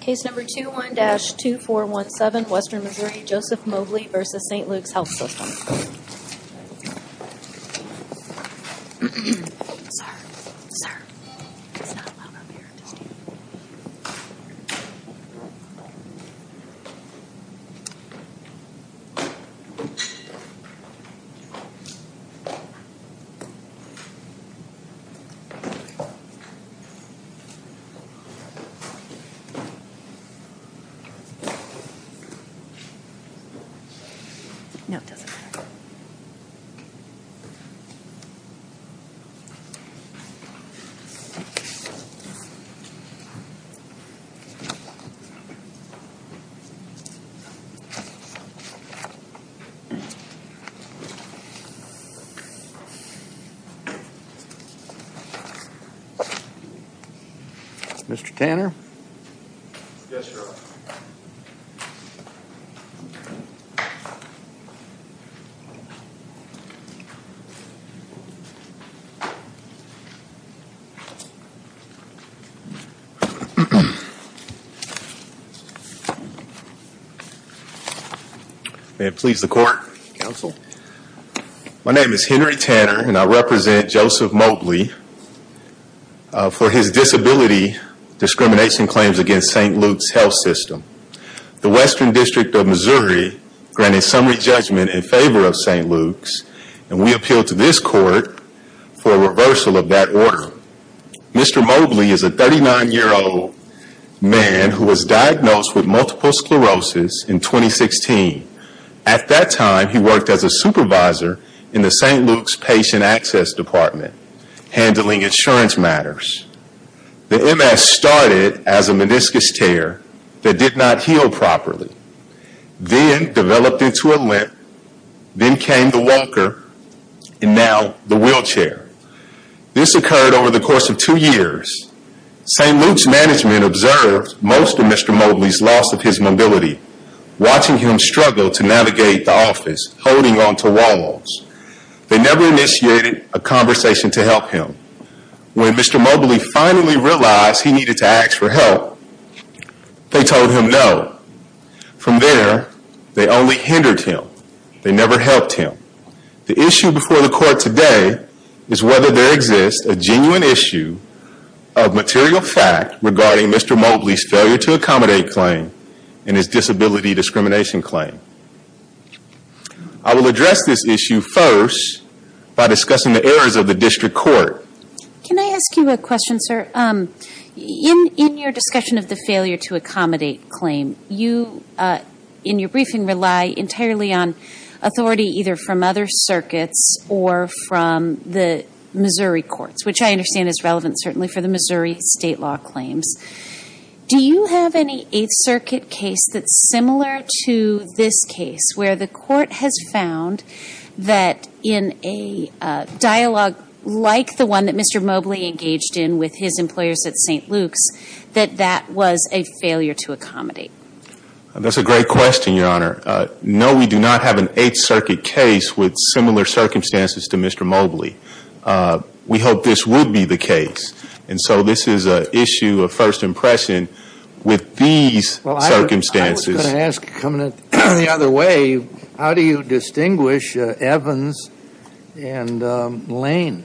Case number 21-2417, Western Missouri, Joseph Mobley v. St. Luke's Health System. No, it doesn't matter. Mr. Tanner? Yes, sir. May it please the Court, Counsel. My name is Henry Tanner and I represent Joseph Mobley for his disability discrimination claims against St. Luke's Health System. The Western District of Missouri granted summary judgment in favor of St. Luke's and we appeal to this Court for a reversal of that order. Mr. Mobley is a 39-year-old man who was diagnosed with multiple sclerosis in 2016. At that time, he worked as a supervisor in the St. Luke's patient access department handling insurance matters. The MS started as a meniscus tear that did not heal properly, then developed into a limp, then came the walker, and now the wheelchair. This occurred over the course of two years. St. Luke's management observed most of Mr. Mobley's loss of his mobility, watching him struggle to navigate the office, holding on to walls. They never initiated a conversation to help him. When Mr. Mobley finally realized he needed to ask for help, they told him no. From there, they only hindered him. They never helped him. The issue before the Court today is whether there exists a genuine issue of material fact regarding Mr. Mobley's failure to accommodate claim and his disability discrimination claim. I will address this issue first by discussing the errors of the District Court. Can I ask you a question, sir? In your discussion of the failure to accommodate claim, you, in your briefing, rely entirely on authority either from other circuits or from the Missouri courts, which I understand is relevant certainly for the Missouri state law claims. Do you have any Eighth Circuit case that's similar to this case, where the Court has found that in a dialogue like the one that Mr. Mobley engaged in with his employers at St. Luke's, that that was a failure to accommodate? That's a great question, Your Honor. No, we do not have an Eighth Circuit case with similar circumstances to Mr. Mobley. We hope this would be the case. And so this is an issue of first impression with these circumstances. Well, I was going to ask, coming in the other way, how do you distinguish Evans and Lane?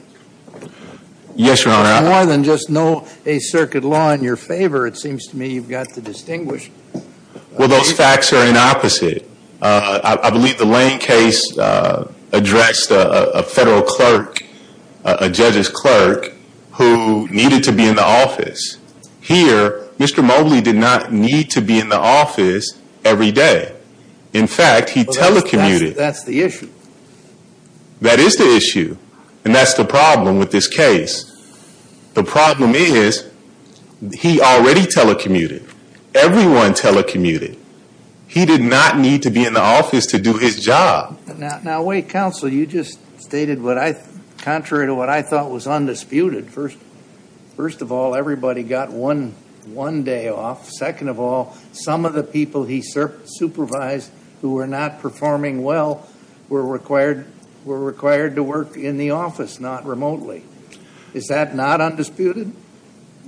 Yes, Your Honor. There's more than just no Eighth Circuit law in your favor, it seems to me you've got to distinguish. Well, those facts are inopposite. I believe the Lane case addressed a federal clerk, a judge's clerk, who needed to be in the office. Here, Mr. Mobley did not need to be in the office every day. In fact, he telecommuted. That's the issue. That is the issue, and that's the problem with this case. The problem is, he already telecommuted, everyone telecommuted. He did not need to be in the office to do his job. Now, wait, counsel, you just stated what I, contrary to what I thought was undisputed. First of all, everybody got one day off. Second of all, some of the people he supervised who were not performing well were required to work in the office, not remotely. Is that not undisputed?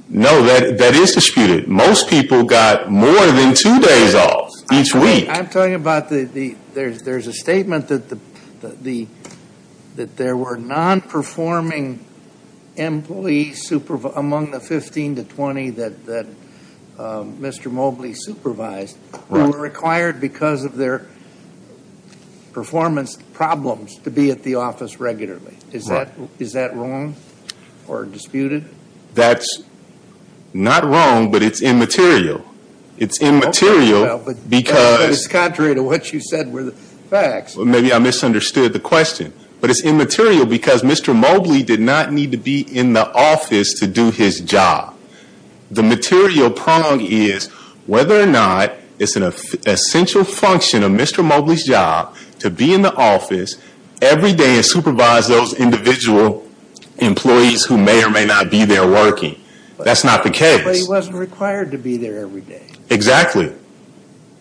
No, that is disputed. Most people got more than two days off each week. I'm talking about, there's a statement that there were non-performing employees among the 15 to 20 that Mr. Mobley supervised who were required because of their performance problems to be at the office regularly. Is that wrong or disputed? That's not wrong, but it's immaterial. It's immaterial because- It's contrary to what you said were the facts. Maybe I misunderstood the question. But it's immaterial because Mr. Mobley did not need to be in the office to do his job. The material prong is whether or not it's an essential function of Mr. Mobley's job to be in the office every day and supervise those individual employees who may or may not be there working. That's not the case. But he wasn't required to be there every day. Exactly.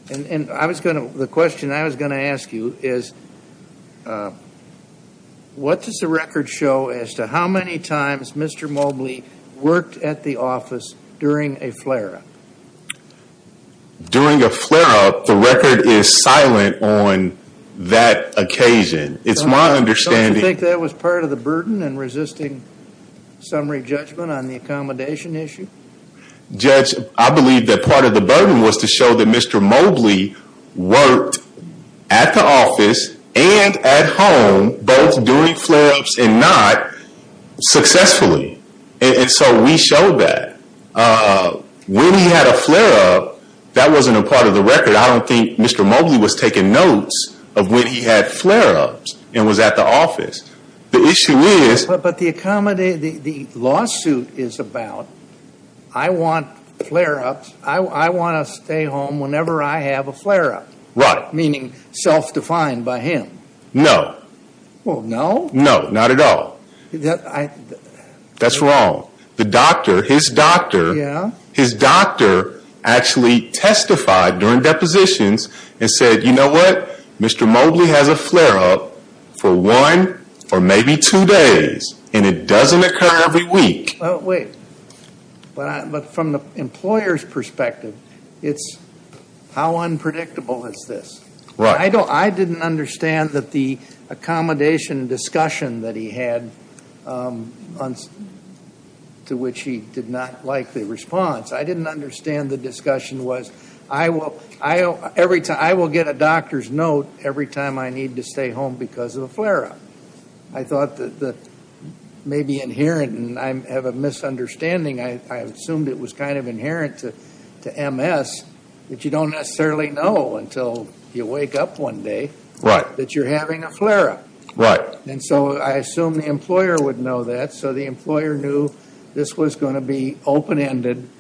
The question I was going to ask you is, what does the record show as to how many times Mr. Mobley worked at the office during a flare-up? During a flare-up, the record is silent on that occasion. It's my understanding- I'm resisting summary judgment on the accommodation issue. Judge, I believe that part of the burden was to show that Mr. Mobley worked at the office and at home, both during flare-ups and not, successfully, and so we showed that. When he had a flare-up, that wasn't a part of the record. I don't think Mr. Mobley was taking notes of when he had flare-ups and was at the office. The issue is- But the lawsuit is about, I want flare-ups, I want to stay home whenever I have a flare-up. Right. Meaning, self-defined by him. No. Well, no? No, not at all. That's wrong. The doctor, his doctor, his doctor actually testified during depositions and said, You know what? Mr. Mobley has a flare-up for one, or maybe two days, and it doesn't occur every week. Wait. But from the employer's perspective, it's, how unpredictable is this? Right. I didn't understand that the accommodation discussion that he had, to which he did not like the response. I didn't understand the discussion was, I will get a doctor's note every time I need to stay home because of a flare-up. I thought that may be inherent, and I have a misunderstanding. I assumed it was kind of inherent to MS that you don't necessarily know until you wake up one day that you're having a flare-up. Right. And so I assumed the employer would know that. And so the employer knew this was going to be open-ended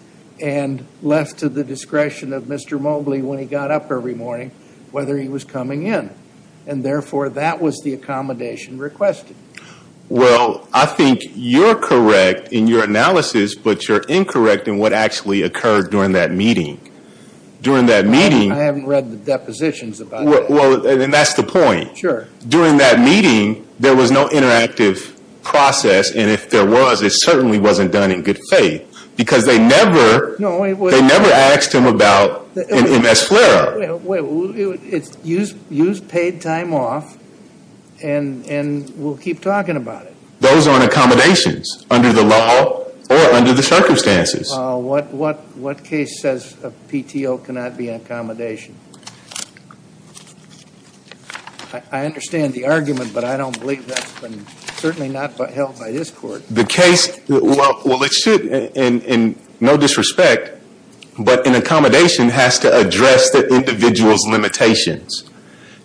and left to the discretion of Mr. Mobley when he got up every morning, whether he was coming in. And therefore, that was the accommodation requested. Well, I think you're correct in your analysis, but you're incorrect in what actually occurred during that meeting. During that meeting. I haven't read the depositions about that. Well, and that's the point. Sure. During that meeting, there was no interactive process, and if there was, it certainly wasn't done in good faith. Because they never asked him about an MS flare-up. Wait. Use paid time off, and we'll keep talking about it. Those aren't accommodations under the law or under the circumstances. What case says a PTO cannot be an accommodation? I understand the argument, but I don't believe that's been certainly not held by this court. The case, well, it should in no disrespect, but an accommodation has to address the individual's limitations.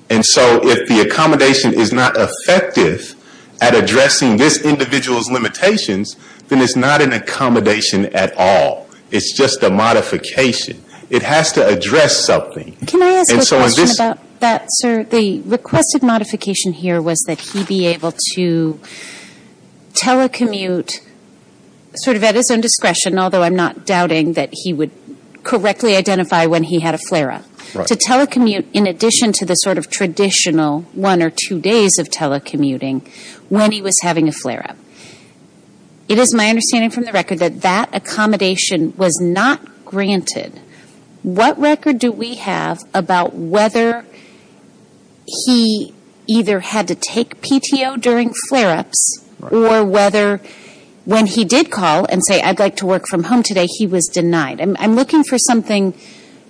And so if the accommodation is not effective at addressing this individual's limitations, then it's not an accommodation at all. It's just a modification. It has to address something. Can I ask a question about that, sir? The requested modification here was that he be able to telecommute sort of at his own discretion, although I'm not doubting that he would correctly identify when he had a flare-up, to telecommute in addition to the sort of traditional one or two days of telecommuting when he was having a flare-up. It is my understanding from the record that that accommodation was not granted. What record do we have about whether he either had to take PTO during flare-ups or whether when he did call and say, I'd like to work from home today, he was denied? I'm looking for something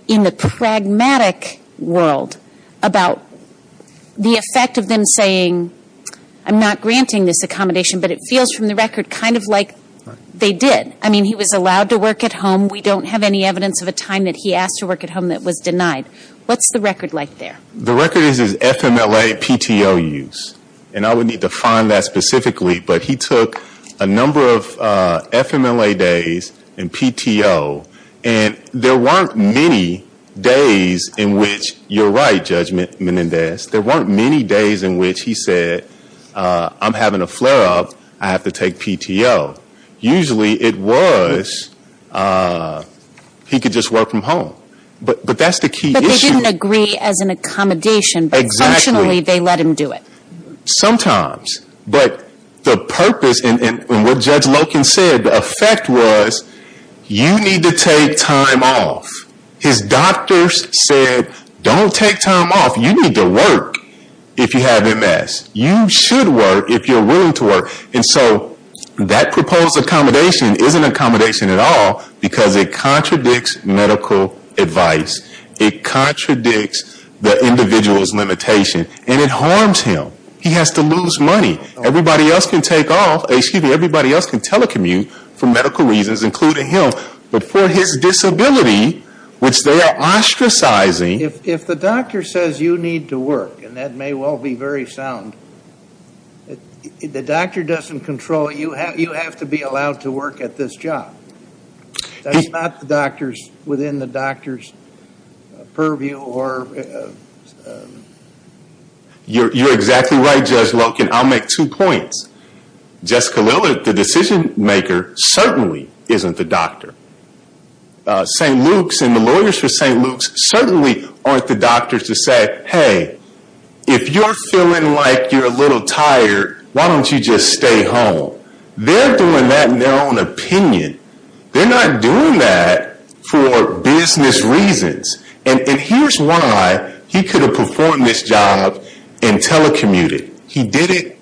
in the pragmatic world about the effect of them saying, I'm not granting this accommodation, but it feels from the record kind of like they did. I mean, he was allowed to work at home. We don't have any evidence of a time that he asked to work at home that was denied. What's the record like there? The record is his FMLA PTO use. And I would need to find that specifically, but he took a number of FMLA days and PTO. And there weren't many days in which, you're right, Judge Menendez, there weren't many days in which he said, I'm having a flare-up, I have to take PTO. Usually it was, he could just work from home. But that's the key issue. But they didn't agree as an accommodation, but functionally they let him do it. Sometimes. But the purpose, and what Judge Loken said, the effect was, you need to take time off. His doctors said, don't take time off. You need to work if you have MS. You should work if you're willing to work. And so that proposed accommodation isn't an accommodation at all because it contradicts medical advice. It contradicts the individual's limitation. And it harms him. He has to lose money. Everybody else can take off, excuse me, everybody else can telecommute for medical reasons, including him. But for his disability, which they are ostracizing. If the doctor says you need to work, and that may well be very sound, the doctor doesn't control it. You have to be allowed to work at this job. That's not within the doctor's purview. You're exactly right, Judge Loken. I'll make two points. Jessica Lillard, the decision maker, certainly isn't the doctor. St. Luke's and the lawyers for St. Luke's certainly aren't the doctors to say, hey, if you're feeling like you're a little tired, why don't you just stay home? They're doing that in their own opinion. They're not doing that for business reasons. And here's why he could have performed this job and telecommuted. He did it,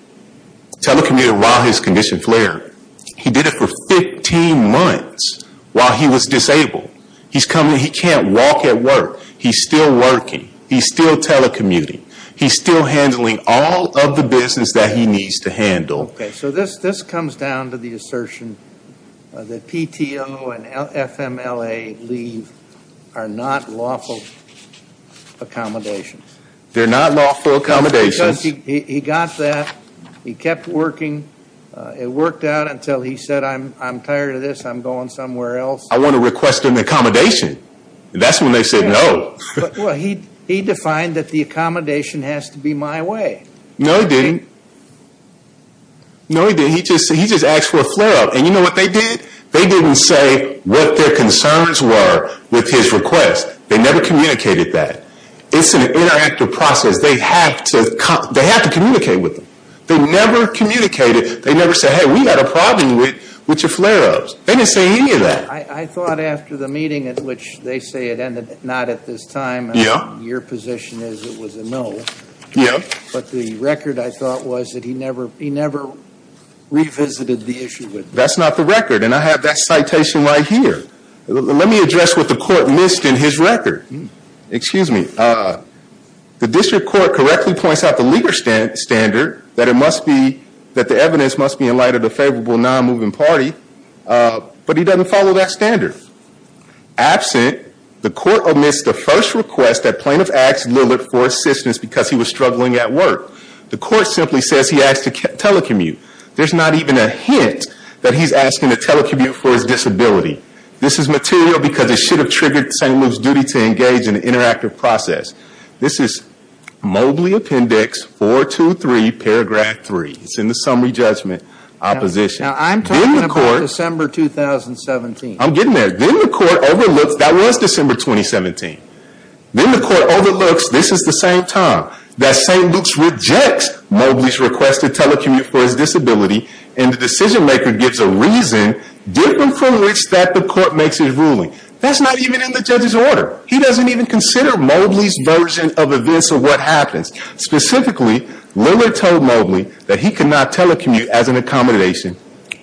telecommuted while his condition flared. He did it for 15 months while he was disabled. He can't walk at work. He's still working. He's still telecommuting. He's still handling all of the business that he needs to handle. Okay, so this comes down to the assertion that PTO and FMLA leave are not lawful accommodations. They're not lawful accommodations. He got that. He kept working. It worked out until he said, I'm tired of this. I'm going somewhere else. I want to request an accommodation. That's when they said no. Well, he defined that the accommodation has to be my way. No, he didn't. No, he didn't. He just asked for a flare-up. And you know what they did? They didn't say what their concerns were with his request. They never communicated that. It's an interactive process. They have to communicate with him. They never communicated. They never said, hey, we've got a problem with your flare-ups. They didn't say any of that. I thought after the meeting at which they say it ended, not at this time. Yeah. Your position is it was a no. Yeah. But the record, I thought, was that he never revisited the issue with them. That's not the record. And I have that citation right here. Let me address what the court missed in his record. Excuse me. The district court correctly points out the legal standard that it must be that the evidence must be in light of the favorable non-moving party. But he doesn't follow that standard. Absent, the court omits the first request that plaintiff asked Lillard for assistance because he was struggling at work. The court simply says he asked to telecommute. There's not even a hint that he's asking to telecommute for his disability. This is material because it should have triggered St. Luke's duty to engage in an interactive process. This is Mobley Appendix 423, Paragraph 3. It's in the summary judgment opposition. Now I'm talking about December 2017. I'm getting there. Then the court overlooks, that was December 2017. Then the court overlooks, this is the same time, that St. Luke's rejects Mobley's request to telecommute for his disability and the decision maker gives a reason different from which that the court makes his ruling. That's not even in the judge's order. He doesn't even consider Mobley's version of events or what happens. Specifically, Lillard told Mobley that he could not telecommute as an accommodation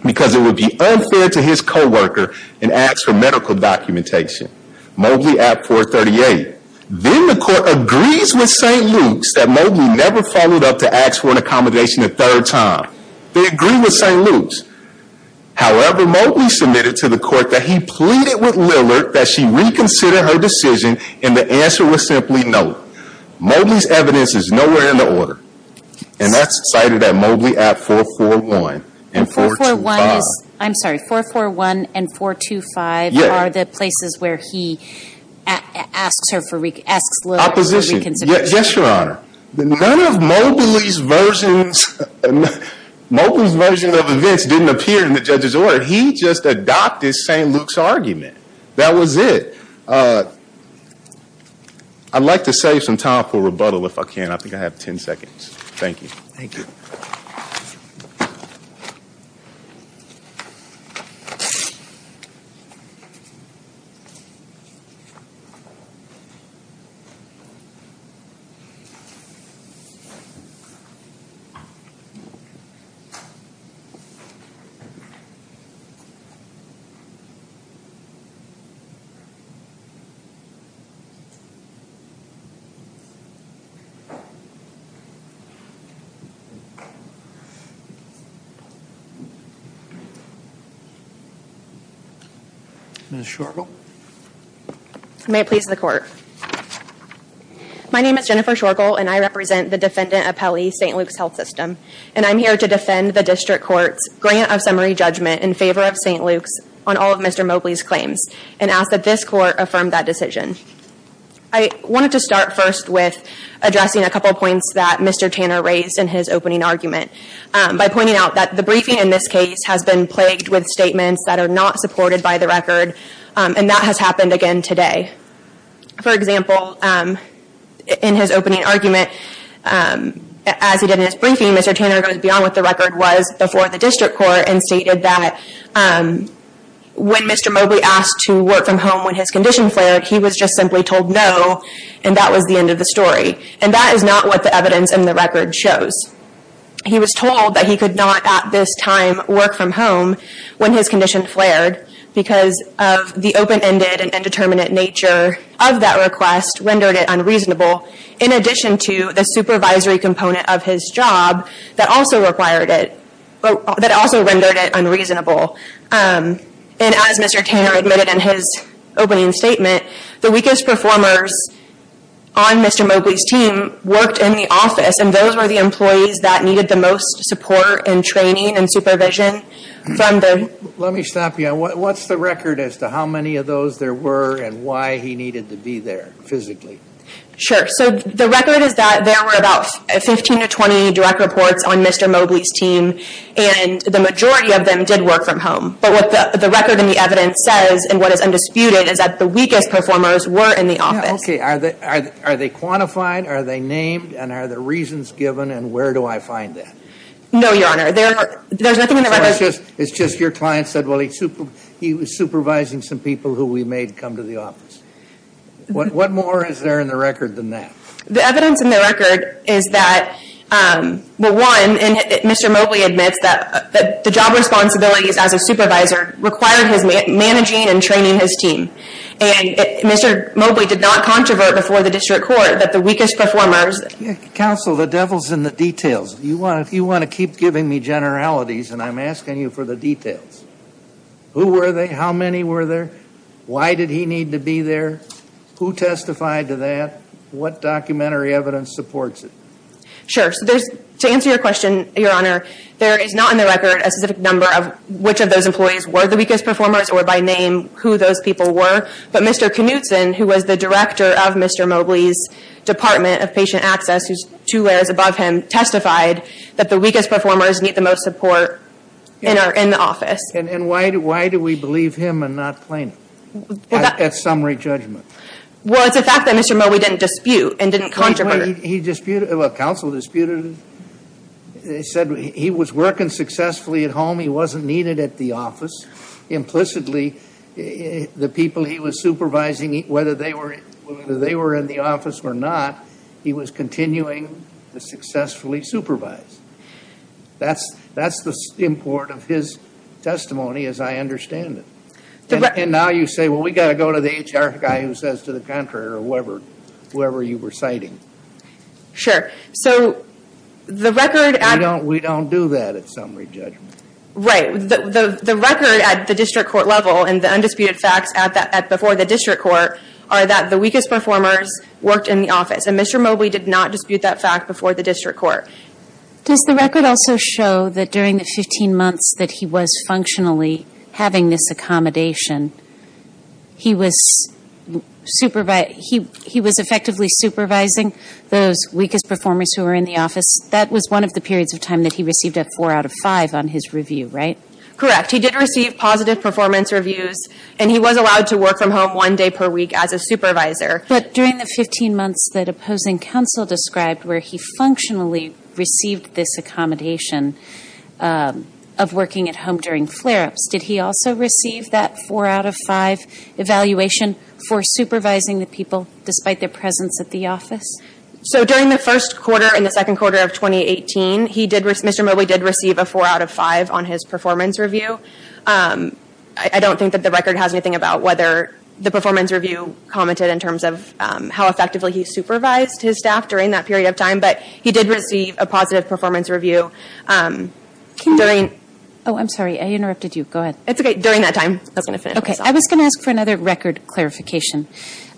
because it would be unfair to his coworker and ask for medical documentation. Mobley Appendix 438. Then the court agrees with St. Luke's that Mobley never followed up to ask for an accommodation a third time. They agree with St. Luke's. However, Mobley submitted to the court that he pleaded with Lillard that she reconsider her decision and the answer was simply no. Mobley's evidence is nowhere in the order. And that's cited at Mobley Appendix 441 and 425. I'm sorry, 441 and 425 are the places where he asks Lillard for reconsideration. Opposition. Yes, Your Honor. None of Mobley's version of events didn't appear in the judge's order. He just adopted St. Luke's argument. That was it. I'd like to save some time for rebuttal if I can. I think I have ten seconds. Thank you. Thank you. Ms. Schorgel. May it please the court. My name is Jennifer Schorgel and I represent the defendant appellee, St. Luke's Health System. And I'm here to defend the district court's grant of summary judgment in favor of St. Luke's on all of Mr. Mobley's claims and ask that this court affirm that decision. I wanted to start first with addressing a couple points that Mr. Tanner raised in his opening argument by pointing out that the briefing in this case has been plagued with statements that are not supported by the record and that has happened again today. For example, in his opening argument, as he did in his briefing, Mr. Tanner goes beyond what the record was before the district court and stated that when Mr. Mobley asked to work from home when his condition flared, he was just simply told no and that was the end of the story. And that is not what the evidence in the record shows. He was told that he could not at this time work from home when his condition flared because of the open-ended and indeterminate nature of that request rendered it unreasonable in addition to the supervisory component of his job that also required it, that also rendered it unreasonable. And as Mr. Tanner admitted in his opening statement, the weakest performers on Mr. Mobley's team worked in the office and those were the employees that needed the most support and training and supervision from the Let me stop you. What's the record as to how many of those there were and why he needed to be there physically? Sure. So the record is that there were about 15 to 20 direct reports on Mr. Mobley's team and the majority of them did work from home. But what the record and the evidence says and what is undisputed is that the weakest performers were in the office. Okay. Are they quantified? Are they named? And are there reasons given? And where do I find that? No, Your Honor. There's nothing in the record. It's just your client said, well, he was supervising some people who we made come to the office. What more is there in the record than that? The evidence in the record is that, well, one, Mr. Mobley admits that the job responsibilities as a supervisor required his managing and training his team. And Mr. Mobley did not controvert before the district court that the weakest performers Counsel, the devil's in the details. You want to keep giving me generalities and I'm asking you for the details. Who were they? How many were there? Why did he need to be there? Who testified to that? What documentary evidence supports it? Sure. So there's, to answer your question, Your Honor, there is not in the record a specific number of which of those employees were the weakest performers or by name who those people were. But Mr. Knutson, who was the director of Mr. Mobley's Department of Patient Access, who's two layers above him, testified that the weakest performers need the most support in the office. And why do we believe him and not claim it at summary judgment? Well, it's a fact that Mr. Mobley didn't dispute and didn't controvert. He disputed, well, counsel disputed. They said he was working successfully at home. He wasn't needed at the office. Implicitly, the people he was supervising, whether they were in the office or not, he was continuing to successfully supervise. That's the import of his testimony, as I understand it. And now you say, well, we've got to go to the HR guy who says to the contrary or whoever you were citing. Sure. So the record at... We don't do that at summary judgment. Right. The record at the district court level and the undisputed facts before the district court are that the weakest performers worked in the office. And Mr. Mobley did not dispute that fact before the district court. Does the record also show that during the 15 months that he was functionally having this accommodation, he was effectively supervising those weakest performers who were in the office? That was one of the periods of time that he received a 4 out of 5 on his review, right? Correct. He did receive positive performance reviews. And he was allowed to work from home one day per week as a supervisor. But during the 15 months that opposing counsel described, where he functionally received this accommodation of working at home during flare-ups, did he also receive that 4 out of 5 evaluation for supervising the people, despite their presence at the office? So during the first quarter and the second quarter of 2018, Mr. Mobley did receive a 4 out of 5 on his performance review. I don't think that the record has anything about whether the performance review commented in terms of how effectively he supervised his staff during that period of time. But he did receive a positive performance review during... Oh, I'm sorry. I interrupted you. Go ahead. It's okay. During that time. I was going to ask for another record clarification.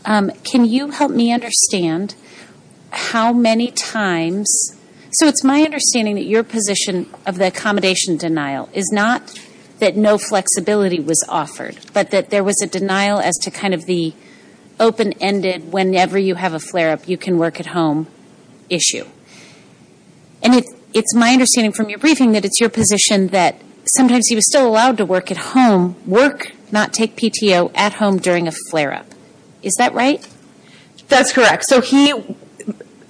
Can you help me understand how many times... So it's my understanding that your position of the accommodation denial is not that no flexibility was offered, but that there was a denial as to the open-ended, whenever you have a flare-up, you can work at home issue. And it's my understanding from your briefing that it's your position that sometimes he was still allowed to work at home, work, not take PTO at home during a flare-up. Is that right? That's correct. So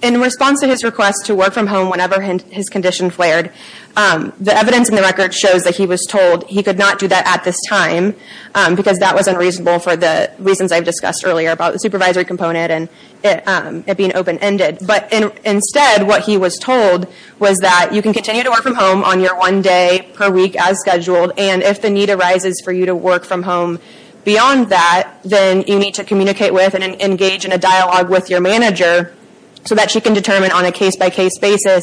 in response to his request to work from home whenever his condition flared, the evidence in the record shows that he was told he could not do that at this time because that was unreasonable for the reasons I've discussed earlier about the supervisory component and it being open-ended. But instead, what he was told was that you can continue to work from home on your one day per week as scheduled. And if the need arises for you to work from home beyond that, then you need to communicate with and engage in a dialogue with your manager so that she can determine on a case-by-case basis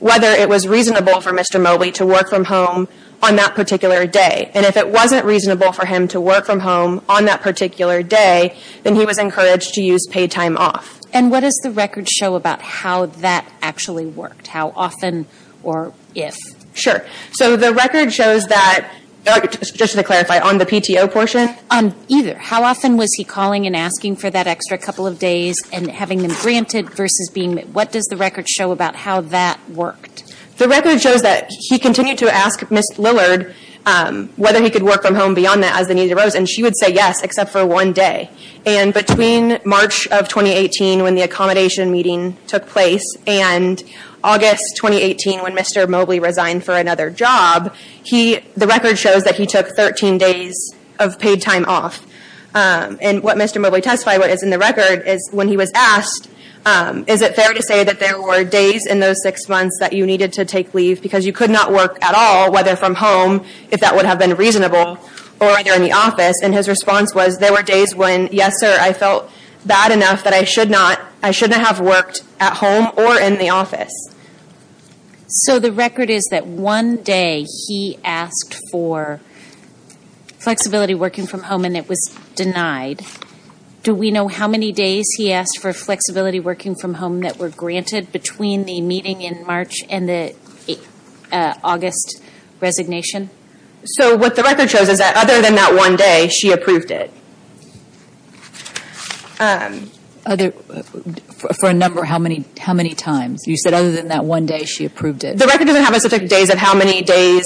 whether it was reasonable for Mr. Mobley to work from home on that particular day. And if it wasn't reasonable for him to work from home on that particular day, then he was encouraged to use paid time off. And what does the record show about how that actually worked? How often or if? Sure. So the record shows that, just to clarify, on the PTO portion? Either. How often was he calling and asking for that extra couple of days and having them granted versus being? What does the record show about how that worked? The record shows that he continued to ask Ms. Lillard whether he could work from home beyond that as the need arose. And she would say yes, except for one day. And between March of 2018, when the accommodation meeting took place, and August 2018, when Mr. Mobley resigned for another job, the record shows that he took 13 days of paid time off. And what Mr. Mobley testified, what is in the record, is when he was asked, is it fair to say that there were days in those six months that you needed to take leave because you could not work at all, whether from home, if that would have been reasonable, or either in the office, and his response was, there were days when, yes sir, I felt bad enough that I should not, I shouldn't have worked at home or in the office. So the record is that one day he asked for flexibility working from home and it was denied. Do we know how many days he asked for flexibility working from home that were granted between the meeting in March and the August resignation? So what the record shows is that other than that one day, she approved it. Other, for a number, how many times? You said other than that one day, she approved it. The record doesn't have a specific days of how many days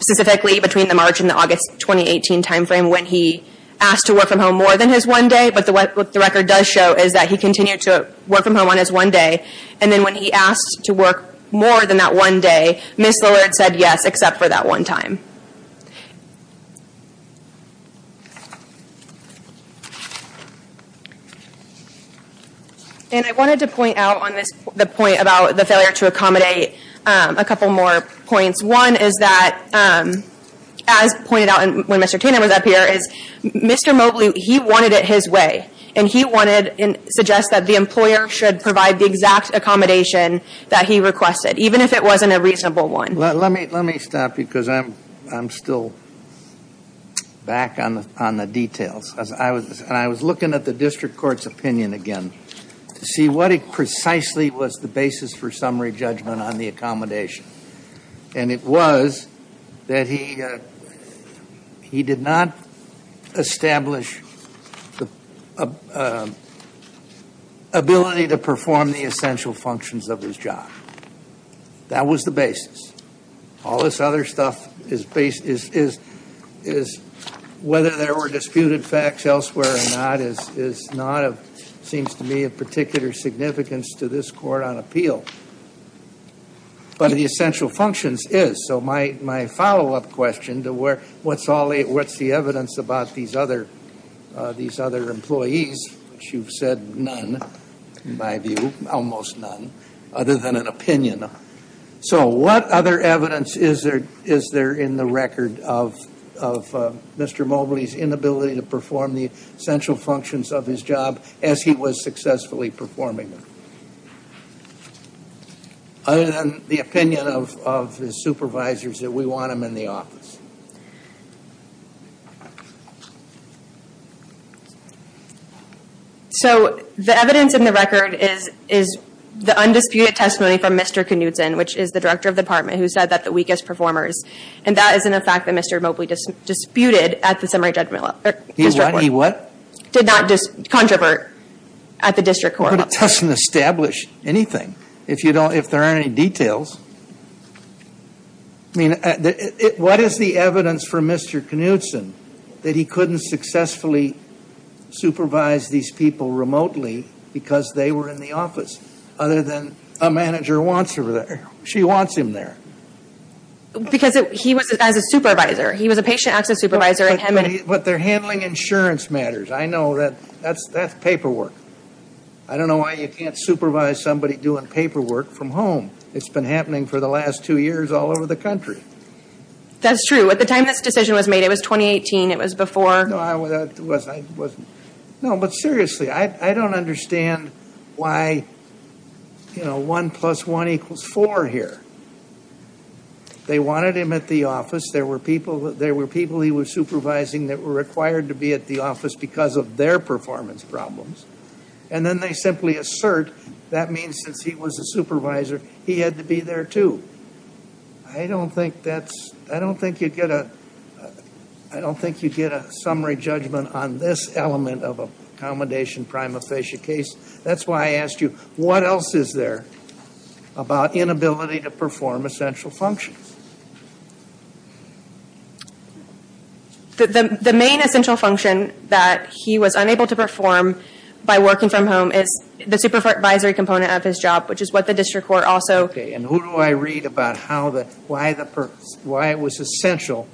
specifically between the March and the August 2018 time frame when he asked to work from home more than his one day, but what the record does show is that he continued to work from home on his one day and then when he asked to work more than that one day, Ms. Lillard said yes, except for that one time. And I wanted to point out on this point about the failure to accommodate a couple more points. One is that, as pointed out when Mr. Tatum was up here, is Mr. Mobley, he wanted it his way. And he wanted to suggest that the employer should provide the exact accommodation that he requested, even if it wasn't a reasonable one. Let me stop because I'm still back on the details. And I was looking at the district court's opinion again to see what precisely was the basis for summary judgment on the accommodation. And it was that he did not establish the ability to perform the essential functions of his job. That was the basis. All this other stuff is whether there were disputed facts elsewhere or not is not, it seems to me, of particular significance to this court on appeal. But the essential functions is. So my follow-up question to what's the evidence about these other employees, which you've said none, in my view, almost none, other than an opinion. So what other evidence is there in the record of Mr. Mobley's inability to perform the essential functions of his job as he was successfully performing them? Other than the opinion of his supervisors that we want him in the office. So the evidence in the record is the undisputed testimony from Mr. Knudson, which is the director of the department, who said that the weakest performers. And that is in the fact that Mr. Mobley disputed at the summary judgment. He what? Did not just controvert at the district court. But it doesn't establish anything if there aren't any details. I mean, what is the evidence for Mr. Knudson that he couldn't successfully supervise these people remotely because they were in the office, other than a manager wants him there. She wants him there. Because he was as a supervisor. He was a patient access supervisor. But they're handling insurance matters. I know that. That's paperwork. I don't know why you can't supervise somebody doing paperwork from home. It's been happening for the last two years all over the country. That's true. At the time this decision was made, it was 2018. It was before. No, it wasn't. No, but seriously, I don't understand why, you know, 1 plus 1 equals 4 here. They wanted him at the office. There were people he was supervising that were required to be at the office because of their performance problems. And then they simply assert that means since he was a supervisor, he had to be there too. I don't think that's, I don't think you'd get a, I don't think you'd get a summary judgment on this element of a commendation prima facie case. That's why I asked you, what else is there about inability to perform essential functions? The main essential function that he was unable to perform by working from home is the supervisory component of his job, which is what the district court also. Okay, and who do I read about how the, why the purpose, why it was essential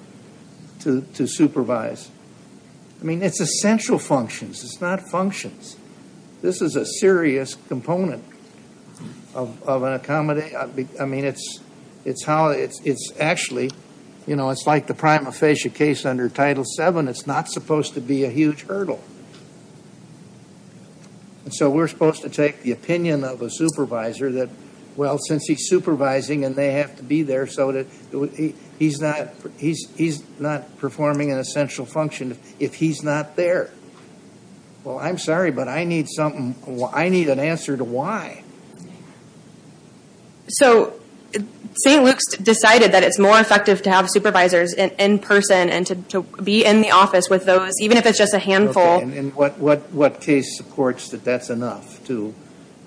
to supervise? I mean, it's essential functions. It's not functions. This is a serious component of an accommodation. I mean, it's how, it's actually, you know, it's like the prima facie case under Title VII. It's not supposed to be a huge hurdle. And so we're supposed to take the opinion of a supervisor that, well, since he's supervising and they have to be there so that he's not, he's not performing an essential function if he's not there. Well, I'm sorry, but I need something. I need an answer to why. So St. Luke's decided that it's more effective to have supervisors in person and to be in the office with those, even if it's just a handful. Okay, and what case supports that that's enough to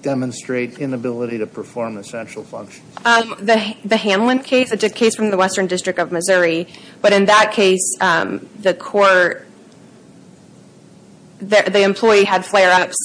demonstrate inability to perform essential functions? It's a case from the Western District of Missouri. But in that case, the court, the employee had flare-ups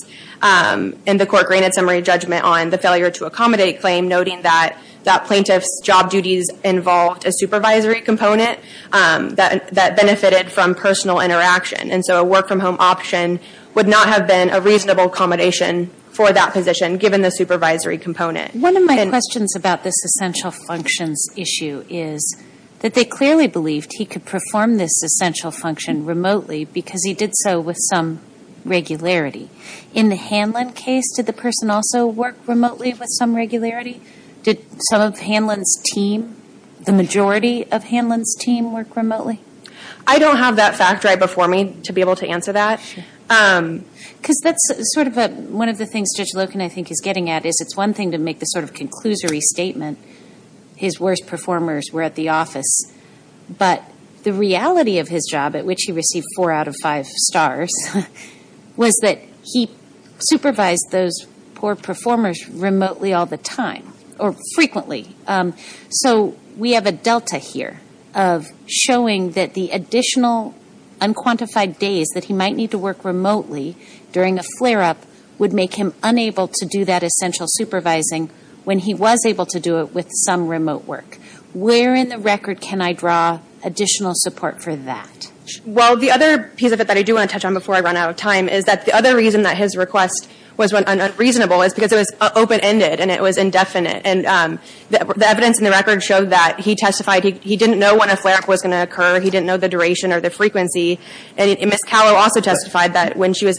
and the court granted summary judgment on the failure to accommodate claim noting that that plaintiff's job duties involved a supervisory component that benefited from personal interaction. And so a work-from-home option would not have been a reasonable accommodation for that position given the supervisory component. One of my questions about this essential functions issue is that they clearly believed he could perform this essential function remotely because he did so with some regularity. In the Hanlon case, did the person also work remotely with some regularity? Did some of Hanlon's team, the majority of Hanlon's team work remotely? I don't have that fact right before me to be able to answer that. Because that's sort of a, one of the things Judge Loken I think is getting at is it's one thing to make this sort of conclusory statement, his worst performers were at the office. But the reality of his job, at which he received 4 out of 5 stars, was that he supervised those poor performers remotely all the time, or frequently. So we have a delta here of showing that the additional unquantified days that he might need to work remotely during a flare-up would make him unable to do that essential supervising when he was able to do it with some remote work. Where in the record can I draw additional support for that? Well, the other piece of it that I do want to touch on before I run out of time is that the other reason that his request was unreasonable is because it was open-ended and it was indefinite. And the evidence in the record showed that he testified he didn't know when a flare-up was going to occur, he didn't know the duration or the frequency. And Ms. Callow also testified that when she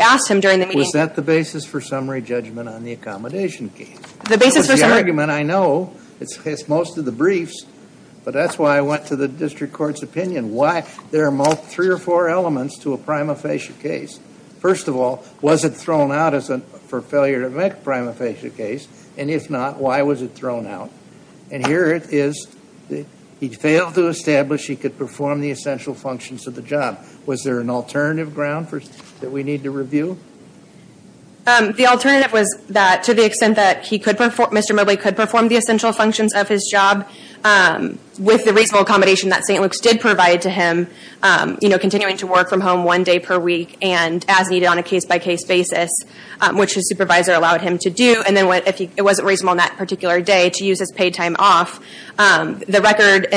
asked him during the meeting... Was that the basis for summary judgment on the accommodation case? The basis for summary... The argument, I know, it's most of the briefs, but that's why I went to the district court's opinion. Why? There are 3 or 4 elements to a prima facie case. First of all, was it thrown out for failure to make a prima facie case? And if not, why was it thrown out? And here it is, he failed to establish he could perform the essential functions of the job. Was there an alternative ground that we need to review? The alternative was that to the extent that Mr. Mobley could perform the essential functions of his job with the reasonable accommodation that St. Luke's did provide to him, continuing to work from home one day per week and as needed on a case-by-case basis, which his supervisor allowed him to do. And then if it wasn't reasonable on that particular day to use his paid time off, the record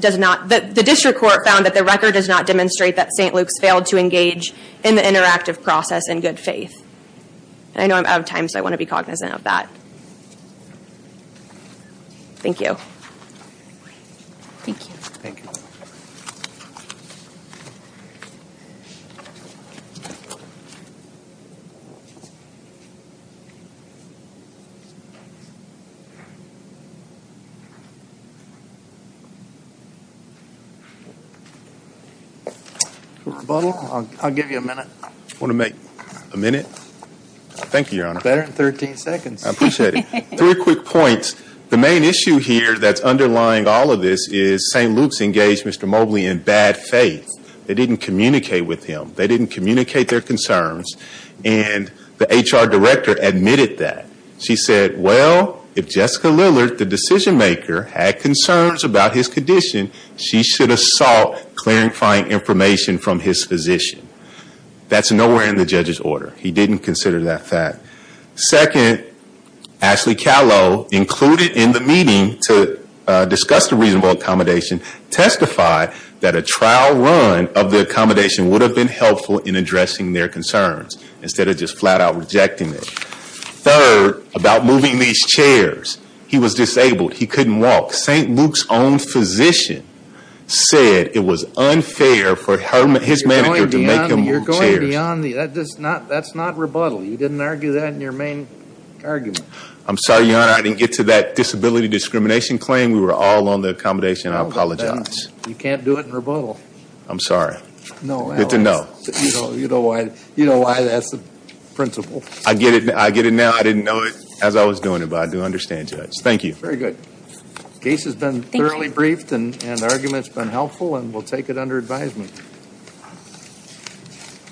does not... The district court found that the record does not demonstrate that St. Luke's failed to engage in the interactive process in good faith. I know I'm out of time, so I want to be cognizant of that. Thank you. Thank you. Thank you. Mr. Butler, I'll give you a minute. Want to make a minute? Thank you, Your Honor. Better than 13 seconds. I appreciate it. Three quick points. The main issue here that's underlying all of this is St. Luke's engaged Mr. Mobley in bad faith. They didn't communicate with him. They didn't communicate their concerns. And the HR director admitted that. She said, well, if Jessica Lillard, the decision maker, had concerns about his condition, she should have sought clarifying information from his physician. That's nowhere in the judge's order. He didn't consider that fact. Second, Ashley Callow, included in the meeting to discuss the reasonable accommodation, testified that a trial run of the accommodation would have been helpful in addressing their concerns instead of just flat out rejecting it. Third, about moving these chairs. He was disabled. He couldn't walk. St. Luke's own physician said it was unfair for his manager to make him move chairs. You're going beyond. That's not rebuttal. You didn't argue that in your main argument. I'm sorry, Your Honor. I didn't get to that disability discrimination claim. We were all on the accommodation. I apologize. You can't do it in rebuttal. I'm sorry. Good to know. You know why that's the principle. I get it now. I didn't know it as I was doing it, but I do understand, Judge. Thank you. Very good. Case has been thoroughly briefed and the argument's been helpful and we'll take it under advisement.